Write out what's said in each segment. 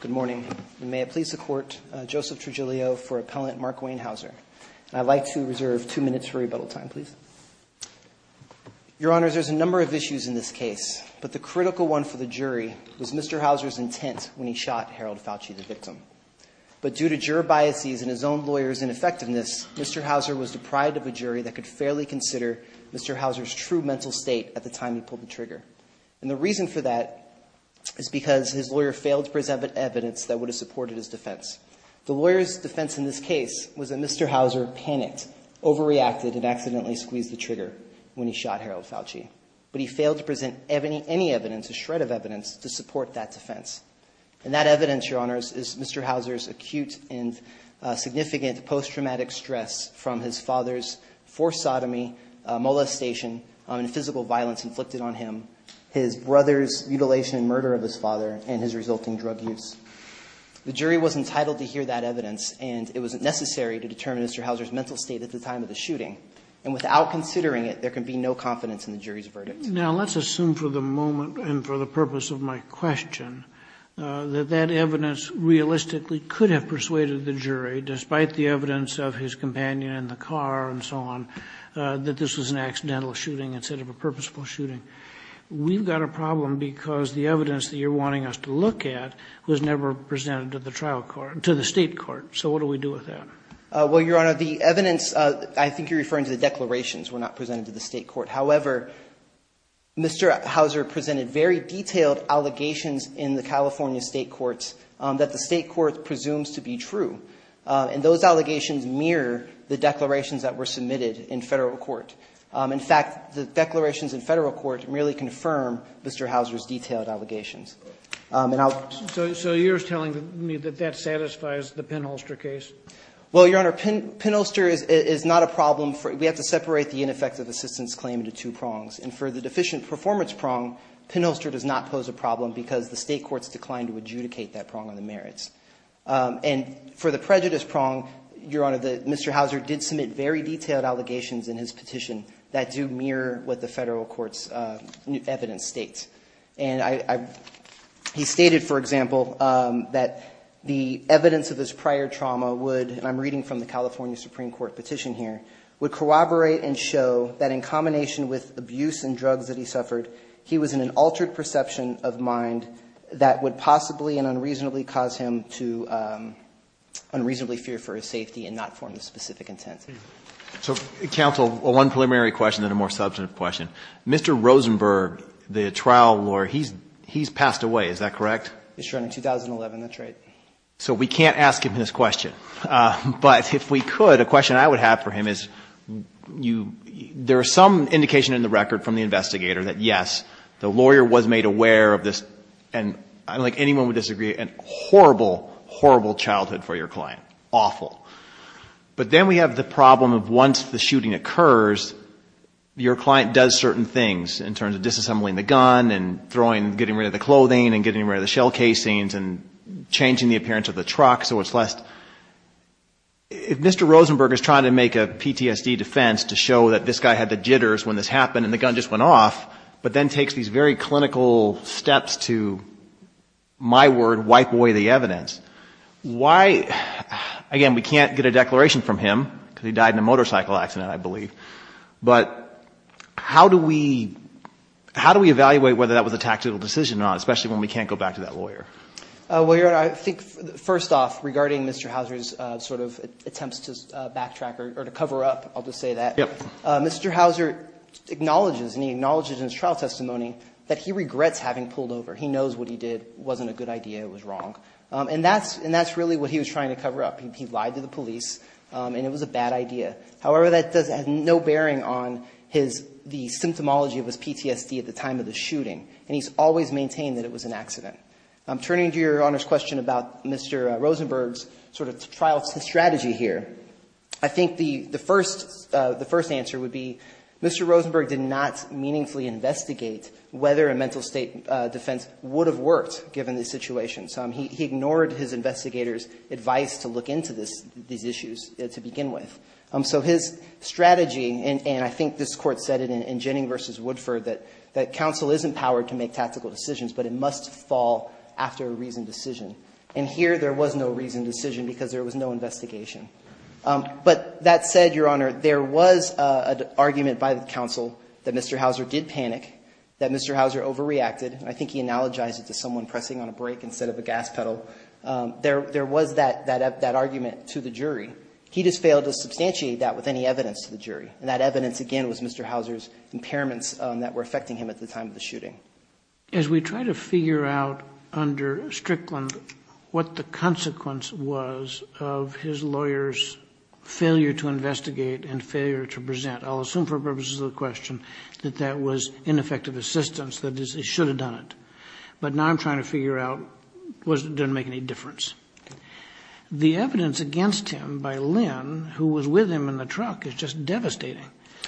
Good morning. May it please the Court, Joseph Tregilio for Appellant Mark Wayne Hauser. I'd like to reserve two minutes for rebuttal time, please. Your Honours, there's a number of issues in this case, but the critical one for the jury was Mr. Hauseur's intent when he shot Harold Fauci, the victim. But due to juror biases and his own lawyer's ineffectiveness, Mr. Hauseur was deprived of a jury that could fairly consider Mr. Hauseur's true mental state at the time he pulled the trigger. And the reason for that is because his lawyer failed to present evidence that would have supported his defense. The lawyer's defense in this case was that Mr. Hauseur panicked, overreacted, and accidentally squeezed the trigger when he shot Harold Fauci. But he failed to present any evidence, a shred of evidence, to support that defense. And that evidence, Your Honours, is Mr. Hauseur's acute and significant post-traumatic stress from his father's forced sodomy, molestation, and physical violence inflicted on him, his brother's mutilation and murder of his father, and his resulting drug use. The jury was entitled to hear that evidence, and it was necessary to determine Mr. Hauseur's mental state at the time of the shooting. And without considering it, there can be no confidence in the jury's verdict. Now, let's assume for the moment, and for the purpose of my question, that that evidence realistically could have persuaded the jury, despite the evidence of his companion in the car and so on, that this was an accidental shooting instead of a purposeful shooting. We've got a problem because the evidence that you're wanting us to look at was never presented to the trial court, to the State court. So what do we do with that? Well, Your Honor, the evidence, I think you're referring to the declarations were not presented to the State court. However, Mr. Hauseur presented very detailed allegations in the California State courts that the State court presumes to be true. And those allegations mirror the declarations that were submitted in Federal court. In fact, the declarations in Federal court merely confirm Mr. Hauseur's detailed allegations. So you're telling me that that satisfies the Penholster case? Well, Your Honor, Penholster is not a problem. We have to separate the ineffective assistance claim into two prongs. And for the deficient performance prong, Penholster does not pose a problem because the State courts declined to adjudicate that prong on the merits. And for the prejudice prong, Your Honor, Mr. Hauseur did submit very detailed allegations in his petition that do mirror what the Federal court's evidence states. And he stated, for example, that the evidence of his prior trauma would, and I'm reading from the California Supreme Court petition here, would corroborate and show that in combination with abuse and drugs that he suffered, he was in an altered perception of mind that would possibly and unreasonably cause him to unreasonably fear for his safety and not form a specific intent. So, counsel, one preliminary question and then a more substantive question. Mr. Rosenberg, the trial lawyer, he's passed away, is that correct? Yes, Your Honor, in 2011. That's right. So we can't ask him this question. But if we could, a question I would have for him is there is some indication in the record from the investigator that, yes, the lawyer was made aware of this, and I don't think anyone would disagree, a horrible, horrible childhood for your client, awful. But then we have the problem of once the shooting occurs, your client does certain things in terms of disassembling the gun and throwing, getting rid of the clothing and getting rid of the shell casings and changing the appearance of the truck so it's less, if Mr. Rosenberg is trying to make a PTSD defense to show that this guy had the jitters when this happened and the gun just went off, but then takes these very clinical steps to, my word, wipe away the evidence, why, again, we can't get a declaration from him because he died in a motorcycle accident, I believe. But how do we evaluate whether that was a tactical decision or not, especially when we can't go back to that lawyer? Well, Your Honor, I think first off, regarding Mr. Houser's sort of attempts to backtrack or to cover up, I'll just say that. Yes. Mr. Houser acknowledges and he acknowledges in his trial testimony that he regrets having pulled over. He knows what he did wasn't a good idea. It was wrong. And that's really what he was trying to cover up. He lied to the police and it was a bad idea. However, that has no bearing on the symptomology of his PTSD at the time of the shooting. And he's always maintained that it was an accident. Turning to Your Honor's question about Mr. Rosenberg's sort of trial strategy here, I think the first answer would be Mr. Rosenberg did not meaningfully investigate whether a mental state defense would have worked, given the situation. He ignored his investigators' advice to look into these issues to begin with. So his strategy, and I think this Court said it in Jenning v. Woodford, that counsel is empowered to make tactical decisions, but it must fall after a reasoned decision. And here there was no reasoned decision because there was no investigation. But that said, Your Honor, there was an argument by the counsel that Mr. Houser did panic, that Mr. Houser overreacted. I think he analogized it to someone pressing on a brake instead of a gas pedal. There was that argument to the jury. He just failed to substantiate that with any evidence to the jury. And that evidence, again, was Mr. Houser's impairments that were affecting him at the time of the shooting. As we try to figure out under Strickland what the consequence was of his lawyer's failure to investigate and failure to present, I'll assume for purposes of the question that that was ineffective assistance, that is, he should have done it. But now I'm trying to figure out was it going to make any difference. The evidence against him by Lynn, who was with him in the truck, is just devastating.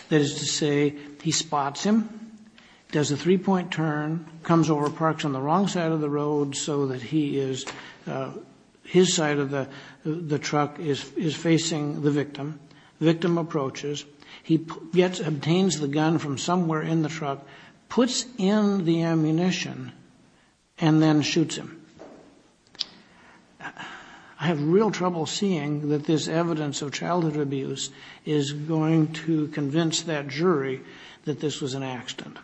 That is to say, he spots him, does a three-point turn, comes over, parks on the wrong side of the road so that he is, his side of the truck is facing the victim. Victim approaches. He obtains the gun from somewhere in the truck, puts in the ammunition, and then shoots him. I have real trouble seeing that this evidence of childhood abuse is going to convince that jury that this was an accident.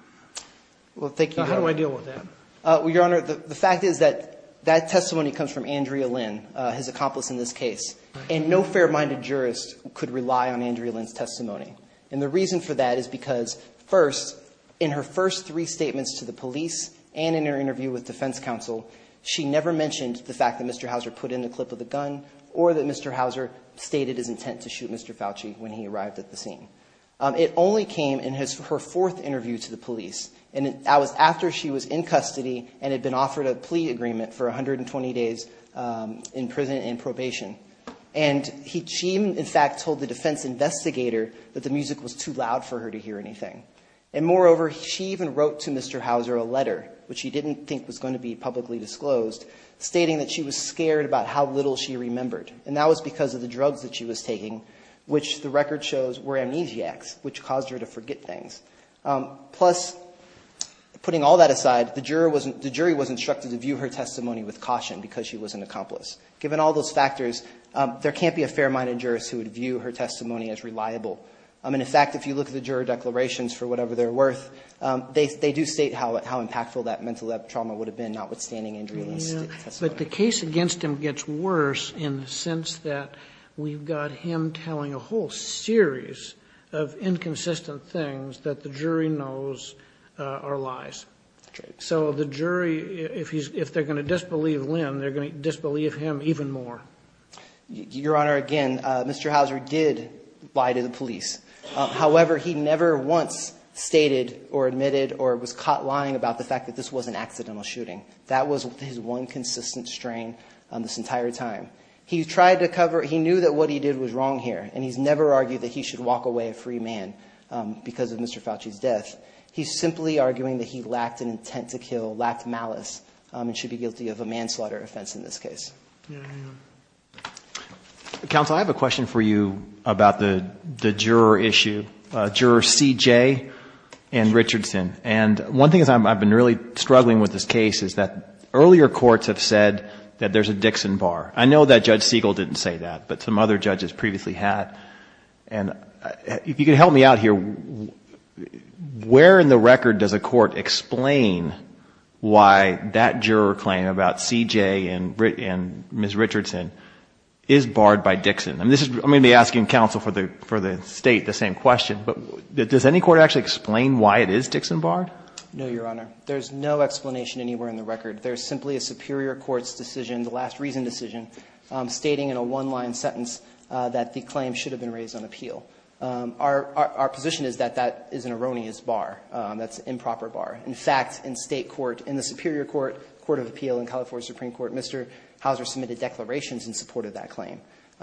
How do I deal with that? Your Honor, the fact is that that testimony comes from Andrea Lynn, his accomplice in this case. And no fair-minded jurist could rely on Andrea Lynn's testimony. And the reason for that is because, first, in her first three statements to the police and in her interview with defense counsel, she never mentioned the fact that Mr. Houser put in the clip of the gun or that Mr. Houser stated his intent to shoot Mr. Fauci when he arrived at the scene. It only came in her fourth interview to the police. And that was after she was in custody and had been offered a plea agreement for 120 days in prison and probation. And she, in fact, told the defense investigator that the music was too loud for her to hear anything. And, moreover, she even wrote to Mr. Houser a letter, which she didn't think was going to be publicly disclosed, stating that she was scared about how little she remembered. And that was because of the drugs that she was taking, which the record shows were amnesiacs, which caused her to forget things. Plus, putting all that aside, the jury was instructed to view her testimony with caution because she was an accomplice. Given all those factors, there can't be a fair-minded jurist who would view her testimony as reliable. And, in fact, if you look at the juror declarations, for whatever they're worth, they do state how impactful that mental trauma would have been, notwithstanding Andrea Lynn's testimony. But the case against him gets worse in the sense that we've got him telling a whole series of inconsistent things that the jury knows are lies. So the jury, if they're going to disbelieve Lynn, they're going to disbelieve him even more. Your Honor, again, Mr. Houser did lie to the police. However, he never once stated or admitted or was caught lying about the fact that this was an accidental shooting. That was his one consistent strain this entire time. He tried to cover it. He knew that what he did was wrong here, and he's never argued that he should walk away a free man because of Mr. Fauci's death. He's simply arguing that he lacked an intent to kill, lacked malice, and should be guilty of a manslaughter offense in this case. Counsel, I have a question for you about the juror issue, Juror C.J. and Richardson. And one thing is I've been really struggling with this case is that earlier courts have said that there's a Dixon bar. I know that Judge Siegel didn't say that, but some other judges previously had. And if you could help me out here, where in the record does a court explain why that juror claim about C.J. and Ms. Richardson is barred by Dixon? I'm going to be asking counsel for the State the same question, but does any court actually explain why it is Dixon barred? No, Your Honor. There's no explanation anywhere in the record. There's simply a superior court's decision, the last reason decision, stating in a one-line sentence that the claim should have been raised on appeal. Our position is that that is an erroneous bar. That's an improper bar. In fact, in State court, in the superior court, court of appeal in California Supreme Court, Mr. Hauser submitted declarations in support of that claim.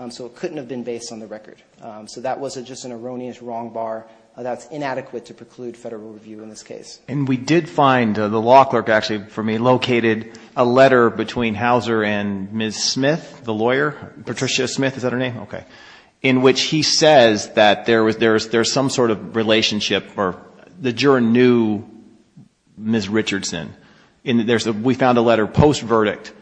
So it couldn't have been based on the record. So that was just an erroneous, wrong bar. That's inadequate to preclude federal review in this case. And we did find, the law clerk actually for me located a letter between Hauser and Ms. Smith, the lawyer, Patricia Smith, is that her name? Okay. In which he says that there's some sort of relationship or the juror knew Ms. Richardson. We found a letter post-verdict.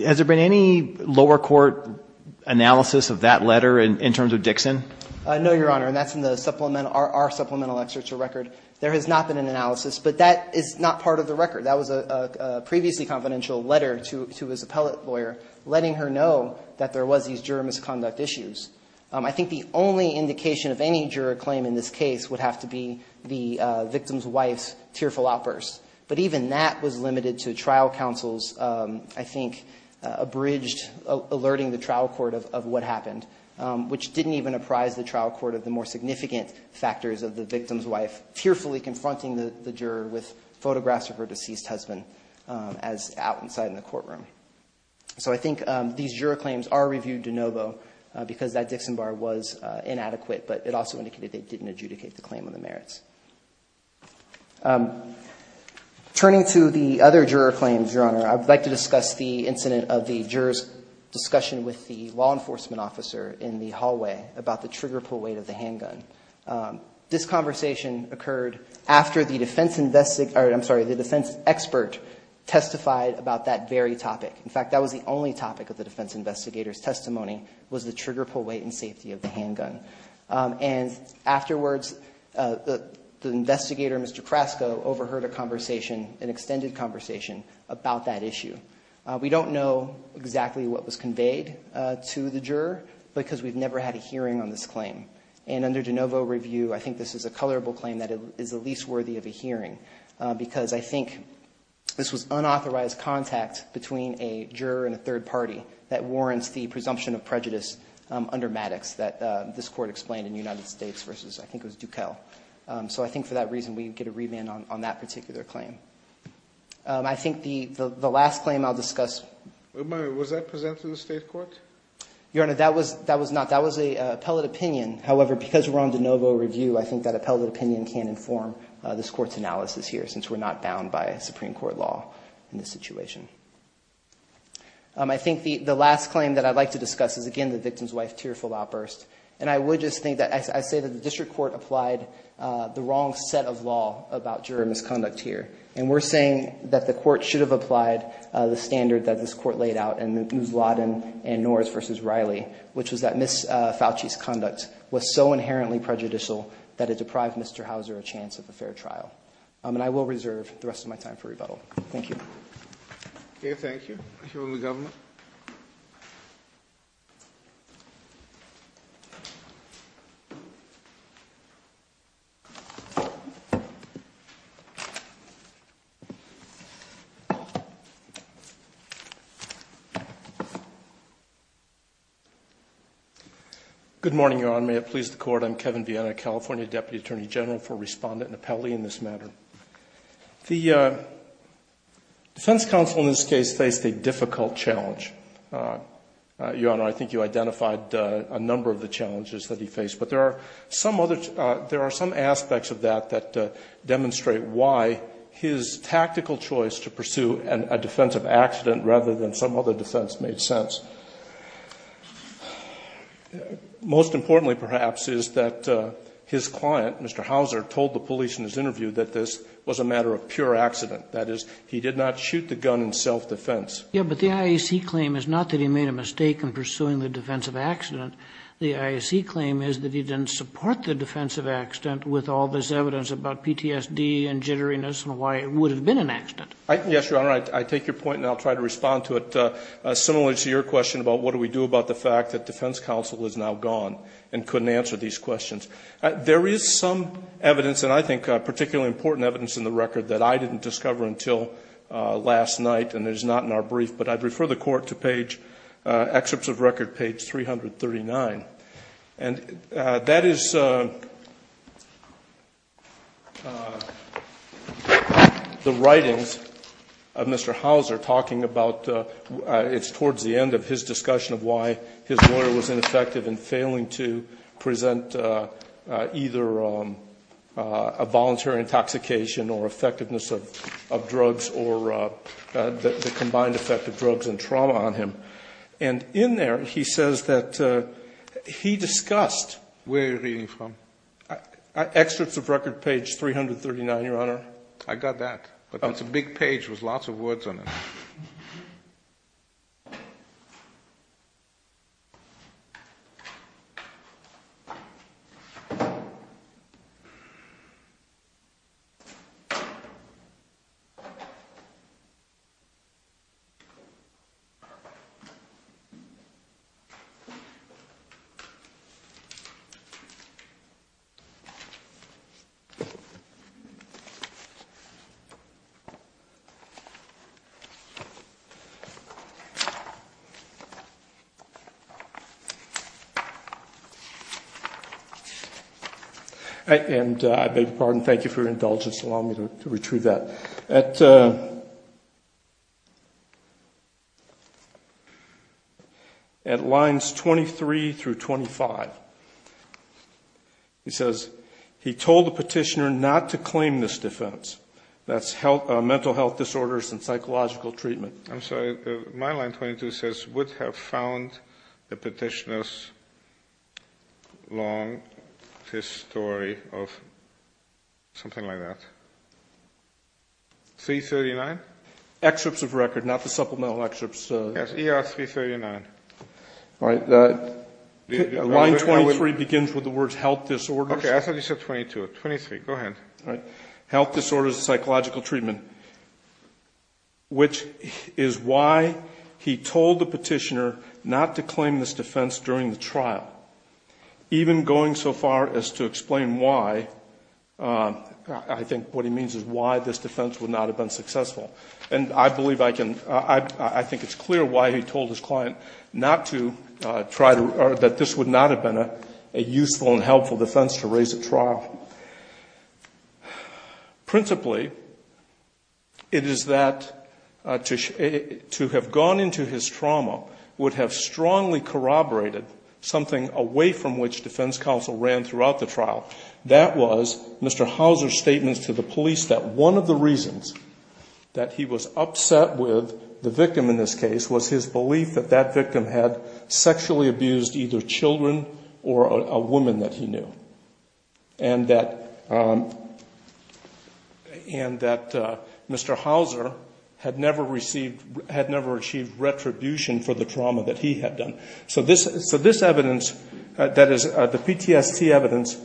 Has there been any lower court analysis of that letter in terms of Dixon? No, Your Honor. And that's in the supplemental, our supplemental excerpt to record. There has not been an analysis. But that is not part of the record. That was a previously confidential letter to his appellate lawyer letting her know that there was these juror misconduct issues. I think the only indication of any juror claim in this case would have to be the victim's wife's tearful outburst. But even that was limited to trial counsels, I think, abridged, alerting the trial court of what happened, which didn't even apprise the trial court of the more significant factors of the victim's wife tearfully confronting the juror with photographs of her deceased husband as out inside in the courtroom. So I think these juror claims are reviewed de novo because that Dixon bar was inadequate. But it also indicated they didn't adjudicate the claim on the merits. Turning to the other juror claims, Your Honor, I would like to discuss the incident of the juror's discussion with the law enforcement officer in the hallway about the trigger pull weight of the handgun. This conversation occurred after the defense investigator, I'm sorry, the defense expert testified about that very topic. In fact, that was the only topic of the defense investigator's testimony was the trigger pull weight and safety of the handgun. And afterwards, the investigator, Mr. Crasco, overheard a conversation, an extended conversation about that issue. We don't know exactly what was conveyed to the juror because we've never had a hearing on this claim. And under de novo review, I think this is a colorable claim that is the least worthy of a hearing because I think this was unauthorized contact between a juror and a third party that warrants the presumption of prejudice under Maddox. That this court explained in the United States versus I think it was Dukell. So I think for that reason, we get a remand on that particular claim. I think the last claim I'll discuss. Was that presented to the state court? Your Honor, that was not. That was an appellate opinion. However, because we're on de novo review, I think that appellate opinion can inform this court's analysis here since we're not bound by Supreme Court law in this situation. I think the last claim that I'd like to discuss is, again, the victim's wife's tearful outburst. And I would just think that I say that the district court applied the wrong set of law about juror misconduct here. And we're saying that the court should have applied the standard that this court laid out in the Ouzladin and Norris versus Riley. Which was that Ms. Fauci's conduct was so inherently prejudicial that it deprived Mr. Hauser a chance of a fair trial. And I will reserve the rest of my time for rebuttal. Thank you. Okay, thank you. I hereby move the government. Good morning, Your Honor. May it please the court. I'm Kevin Viena, California Deputy Attorney General, for respondent and appellee in this matter. The defense counsel in this case faced a difficult challenge. Your Honor, I think you identified a number of the challenges that he faced. But there are some other aspects of that that demonstrate why his tactical choice to pursue a defensive accident rather than some other defense made sense. Most importantly, perhaps, is that his client, Mr. Hauser, told the police in his interview that this was a matter of pure accident. That is, he did not shoot the gun in self-defense. Yes, but the IAC claim is not that he made a mistake in pursuing the defensive accident. The IAC claim is that he didn't support the defensive accident with all this evidence about PTSD and jitteriness and why it would have been an accident. Yes, Your Honor. I take your point and I'll try to respond to it. Similar to your question about what do we do about the fact that defense counsel is now gone and couldn't answer these questions. There is some evidence, and I think particularly important evidence in the record that I didn't discover until last night and is not in our brief, but I'd refer the Court to page, excerpts of record page 339. And that is the writings of Mr. Hauser talking about, it's towards the end of his discussion of why his lawyer was ineffective in failing to present either a voluntary intoxication or effectiveness of drugs or the combined effect of drugs and trauma on him. And in there, he says that he discussed. Where are you reading from? Excerpts of record page 339, Your Honor. I got that. It's a big page with lots of words on it. And I beg your pardon. Thank you for your indulgence. Allow me to retrieve that. At lines 23 through 25, he says, That's mental health disorders and psychological treatment. I'm sorry. My line 22 says would have found the petitioner's long history of something like that. 339? Excerpts of record, not the supplemental excerpts. Yes, ER 339. All right. Line 23 begins with the words health disorders. Okay. I thought you said 22. 23, go ahead. All right. Health disorders and psychological treatment, which is why he told the petitioner not to claim this defense during the trial. Even going so far as to explain why, I think what he means is why this defense would not have been successful. And I believe I can ‑‑ I think it's clear why he told his client not to try to ‑‑ that this would not have been a useful and helpful defense to raise at trial. Principally, it is that to have gone into his trauma would have strongly corroborated something away from which defense counsel ran throughout the trial. That was Mr. Hauser's statements to the police that one of the reasons that he was upset with the victim in this case was his belief that that victim had sexually abused either children or a woman that he knew. And that Mr. Hauser had never received ‑‑ had never achieved retribution for the trauma that he had done. So this evidence, that is, the PTSD evidence,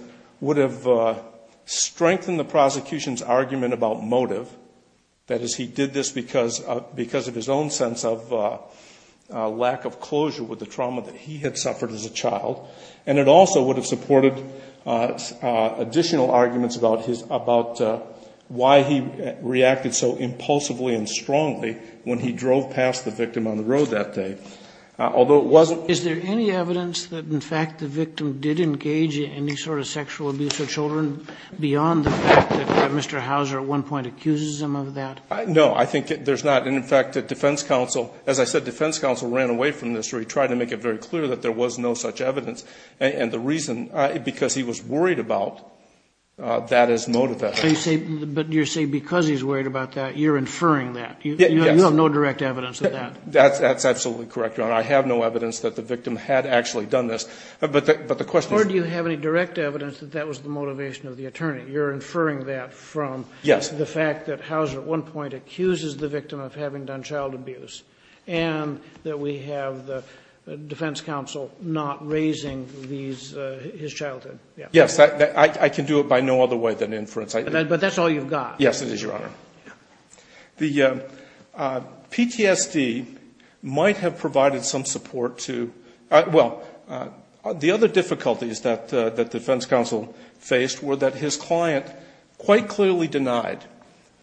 would have strengthened the prosecution's argument about motive. That is, he did this because of his own sense of lack of closure with the trauma that he had suffered as a child. And it also would have supported additional arguments about his ‑‑ about why he reacted so impulsively and strongly when he drove past the victim on the road that day. Although it wasn't ‑‑ Is there any evidence that, in fact, the victim did engage in any sort of sexual abuse of children beyond the fact that Mr. Hauser at one point accuses him of that? No, I think there's not. And, in fact, defense counsel, as I said, defense counsel ran away from this. He tried to make it very clear that there was no such evidence. And the reason ‑‑ because he was worried about that as motive evidence. But you're saying because he's worried about that, you're inferring that. Yes. You have no direct evidence of that. That's absolutely correct, Your Honor. I have no evidence that the victim had actually done this. But the question is ‑‑ Or do you have any direct evidence that that was the motivation of the attorney? You're inferring that from the fact that Hauser at one point accuses the victim of having done child abuse. And that we have the defense counsel not raising these ‑‑ his childhood. Yes. I can do it by no other way than inference. But that's all you've got. Yes, it is, Your Honor. The PTSD might have provided some support to ‑‑ well, the other difficulties that defense counsel faced were that his client quite clearly denied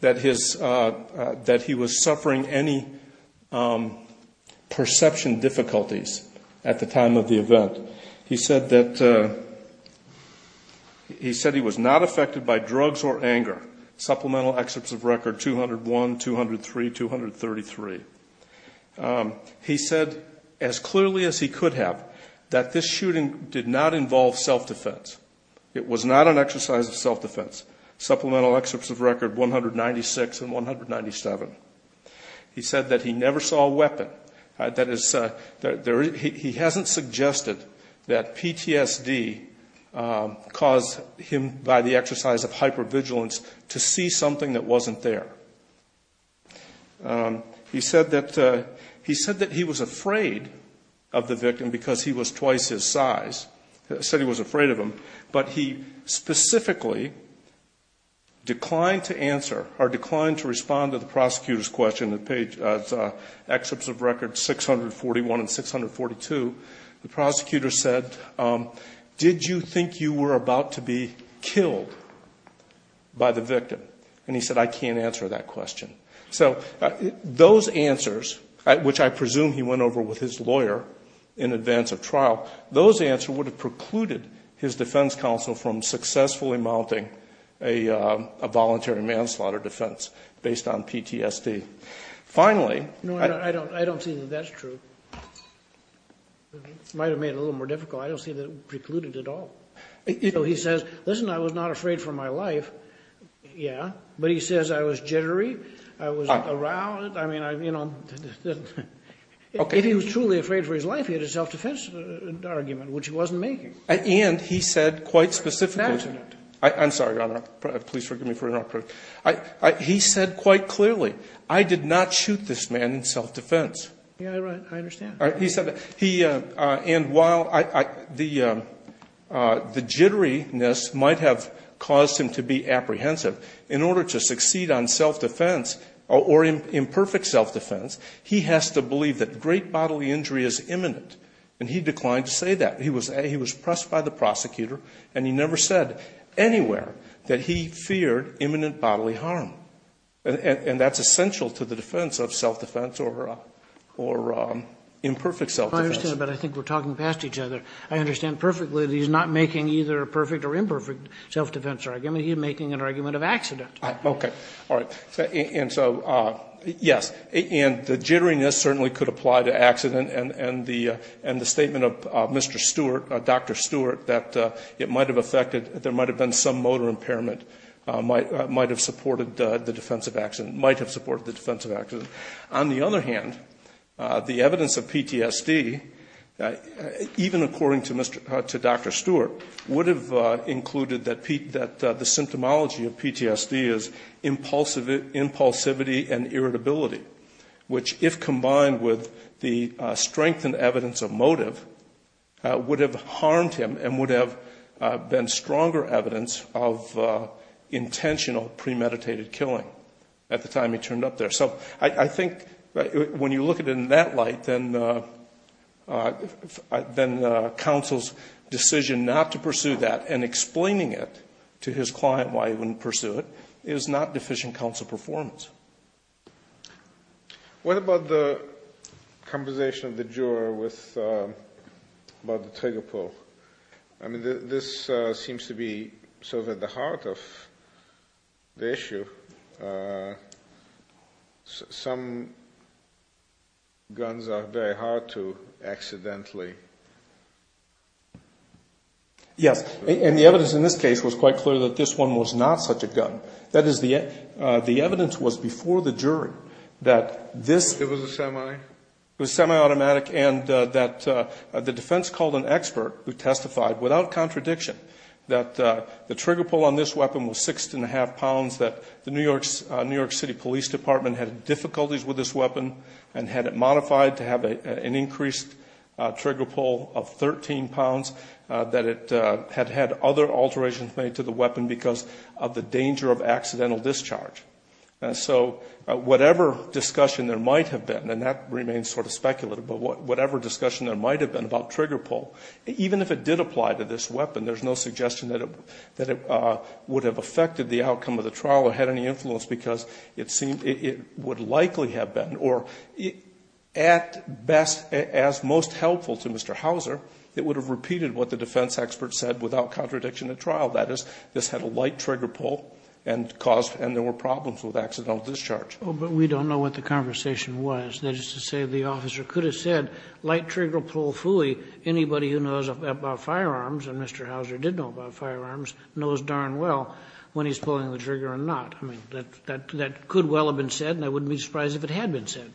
that his ‑‑ that he was suffering any perception difficulties at the time of the event. He said that he was not affected by drugs or anger. Supplemental excerpts of record 201, 203, 233. He said as clearly as he could have that this shooting did not involve self‑defense. It was not an exercise of self‑defense. Supplemental excerpts of record 196 and 197. He said that he never saw a weapon. He hasn't suggested that PTSD caused him by the exercise of hypervigilance to see something that wasn't there. He said that he was afraid of the victim because he was twice his size. He said he was afraid of him. But he specifically declined to answer or declined to respond to the prosecutor's question. The page ‑‑ it's excerpts of record 641 and 642. The prosecutor said, did you think you were about to be killed by the victim? And he said, I can't answer that question. So those answers, which I presume he went over with his lawyer in advance of trial, those answers would have precluded his defense counsel from successfully mounting a voluntary manslaughter defense based on PTSD. Finally ‑‑ I don't see that that's true. It might have made it a little more difficult. I don't see that it precluded it at all. He says, listen, I was not afraid for my life. Yeah. But he says I was jittery. I was aroused. If he was truly afraid for his life, he had a self‑defense argument, which he wasn't making. And he said quite specifically ‑‑ I'm sorry, Your Honor. Please forgive me for interrupting. He said quite clearly, I did not shoot this man in self‑defense. Yeah, right. I understand. And while the jitteriness might have caused him to be apprehensive, in order to succeed on self‑defense or imperfect self‑defense, he has to believe that great bodily injury is imminent. And he declined to say that. He was pressed by the prosecutor, and he never said anywhere that he feared imminent bodily harm. And that's essential to the defense of self‑defense or imperfect self‑defense. I understand, but I think we're talking past each other. I understand perfectly that he's not making either a perfect or imperfect self‑defense argument. He's making an argument of accident. Okay. All right. And so, yes. And the jitteriness certainly could apply to accident. And the statement of Mr. Stewart, Dr. Stewart, that it might have affected, there might have been some motor impairment might have supported the defense of accident, might have supported the defense of accident. On the other hand, the evidence of PTSD, even according to Dr. Stewart, would have included that the symptomology of PTSD is impulsivity and irritability, which, if combined with the strengthened evidence of motive, would have harmed him and would have been stronger evidence of intentional premeditated killing at the time he turned up there. So I think when you look at it in that light, then counsel's decision not to pursue that and explaining it to his client why he wouldn't pursue it is not deficient counsel performance. What about the conversation of the juror about the trigger pull? I mean, this seems to be sort of at the heart of the issue. Some guns are very hard to accidentally. Yes. And the evidence in this case was quite clear that this one was not such a gun. That is, the evidence was before the jury that this- It was a semi? It was semi-automatic and that the defense called an expert who testified without contradiction that the trigger pull on this weapon was six and a half pounds, that the New York City Police Department had difficulties with this weapon and had it modified to have an increased trigger pull of 13 pounds, that it had had other alterations made to the weapon because of the danger of accidental discharge. So whatever discussion there might have been, and that remains sort of speculative, but whatever discussion there might have been about trigger pull, even if it did apply to this weapon, there's no suggestion that it would have affected the outcome of the trial or had any influence because it would likely have been. Or at best, as most helpful to Mr. Hauser, that is, this had a light trigger pull and there were problems with accidental discharge. But we don't know what the conversation was. That is to say the officer could have said, light trigger pull, phooey. Anybody who knows about firearms, and Mr. Hauser did know about firearms, knows darn well when he's pulling the trigger or not. I mean, that could well have been said and I wouldn't be surprised if it had been said.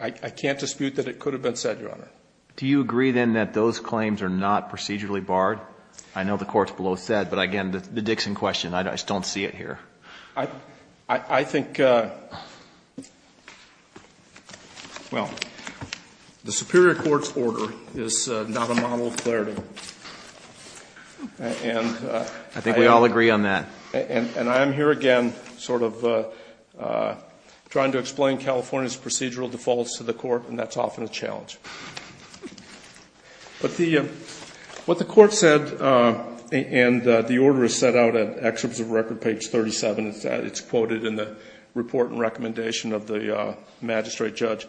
I can't dispute that it could have been said, Your Honor. Do you agree, then, that those claims are not procedurally barred? I know the court below said, but again, the Dixon question, I just don't see it here. I think, well, the superior court's order is not a model of clarity. I think we all agree on that. And I'm here again sort of trying to explain California's procedural defaults to the court, and that's often a challenge. But what the court said, and the order is set out in Excerpts of Record, page 37. It's quoted in the report and recommendation of the magistrate judge.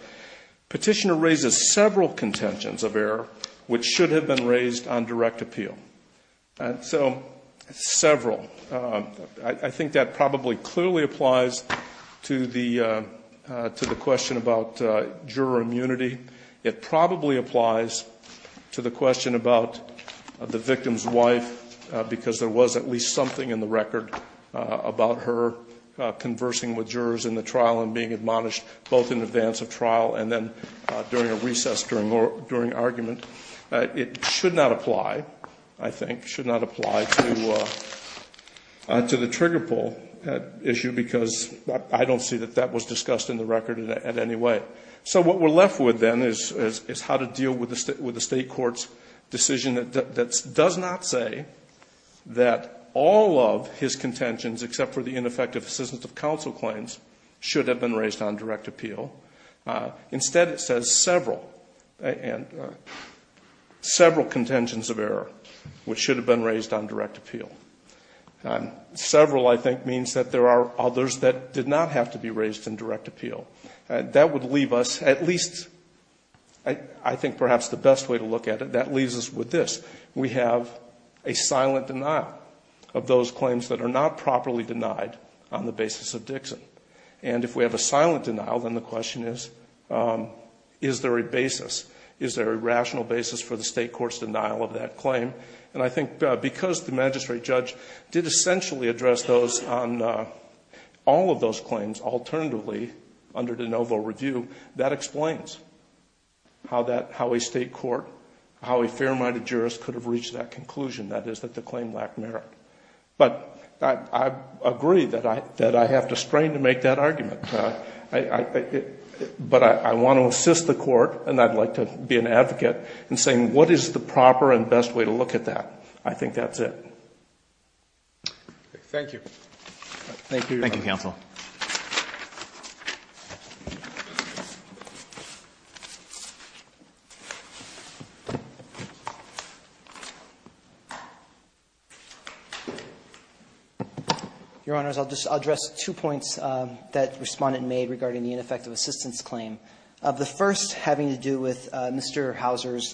Petitioner raises several contentions of error which should have been raised on direct appeal. So several. I think that probably clearly applies to the question about juror immunity. It probably applies to the question about the victim's wife, because there was at least something in the record about her conversing with jurors in the trial and being admonished both in advance of trial and then during a recess during argument. It should not apply, I think, should not apply to the trigger pull issue, because I don't see that that was discussed in the record in any way. So what we're left with then is how to deal with a State court's decision that does not say that all of his contentions except for the ineffective assistance of counsel claims should have been raised on direct appeal. Instead, it says several. And several contentions of error which should have been raised on direct appeal. Several, I think, means that there are others that did not have to be raised on direct appeal. That would leave us at least, I think perhaps the best way to look at it, that leaves us with this. We have a silent denial of those claims that are not properly denied on the basis of Dixon. And if we have a silent denial, then the question is, is there a basis? Is there a rational basis for the State court's denial of that claim? And I think because the magistrate judge did essentially address those on all of those claims, alternatively under de novo review, that explains how a State court, how a fair-minded jurist could have reached that conclusion, that is that the claim lacked merit. But I agree that I have to strain to make that argument. But I want to assist the court, and I'd like to be an advocate, in saying what is the proper and best way to look at that. I think that's it. Thank you. Thank you, Your Honor. Thank you, counsel. Your Honors, I'll just address two points that Respondent made regarding the ineffective assistance claim, the first having to do with Mr. Houser's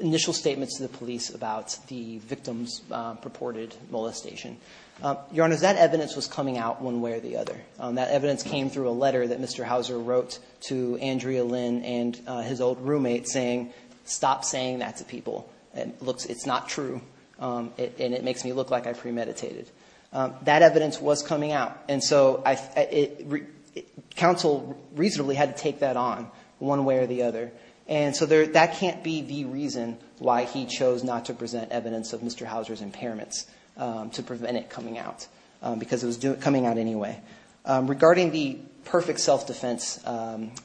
initial statements to the police about the victim's purported multiple-use assault. Your Honors, that evidence was coming out one way or the other. That evidence came through a letter that Mr. Houser wrote to Andrea Lynn and his old roommate saying, stop saying that to people. It's not true, and it makes me look like I premeditated. That evidence was coming out, and so counsel reasonably had to take that on one way or the other, and so that can't be the reason why he chose not to present evidence of Mr. Houser's impairments, to prevent it coming out, because it was coming out anyway. Regarding the perfect self-defense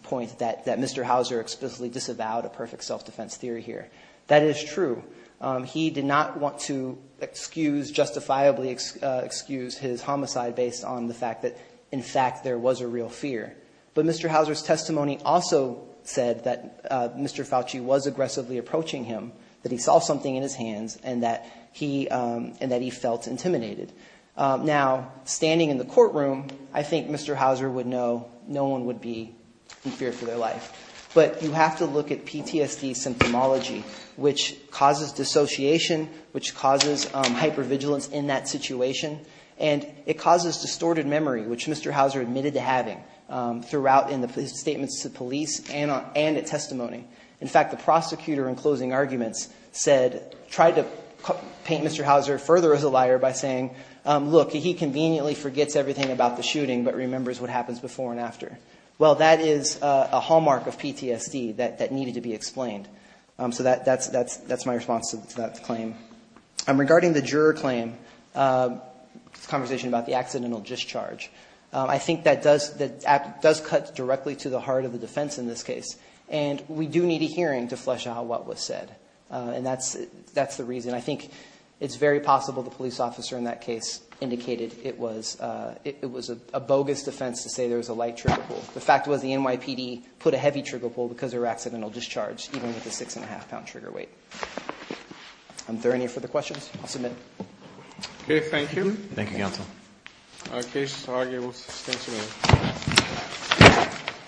point that Mr. Houser explicitly disavowed, a perfect self-defense theory here, that is true. He did not want to excuse, justifiably excuse, his homicide based on the fact that, in fact, there was a real fear. But Mr. Houser's testimony also said that Mr. Fauci was aggressively approaching him, that he saw something in his hands, and that he felt intimidated. Now, standing in the courtroom, I think Mr. Houser would know no one would be in fear for their life. But you have to look at PTSD symptomology, which causes dissociation, which causes hypervigilance in that situation, and it causes distorted memory, which Mr. Houser admitted to having throughout in his statements to police and at testimony. In fact, the prosecutor in closing arguments said, tried to paint Mr. Houser further as a liar by saying, look, he conveniently forgets everything about the shooting, but remembers what happens before and after. Well, that is a hallmark of PTSD that needed to be explained. So that's my response to that claim. Regarding the juror claim, the conversation about the accidental discharge, I think that does cut directly to the heart of the defense in this case. And we do need a hearing to flesh out what was said. And that's the reason. I think it's very possible the police officer in that case indicated it was a bogus defense to say there was a light trigger pull. The fact was the NYPD put a heavy trigger pull because of her accidental discharge, even with a six-and-a-half-pound trigger weight. Are there any further questions? I'll submit. Okay, thank you. Thank you, counsel. Our case is argued with abstention.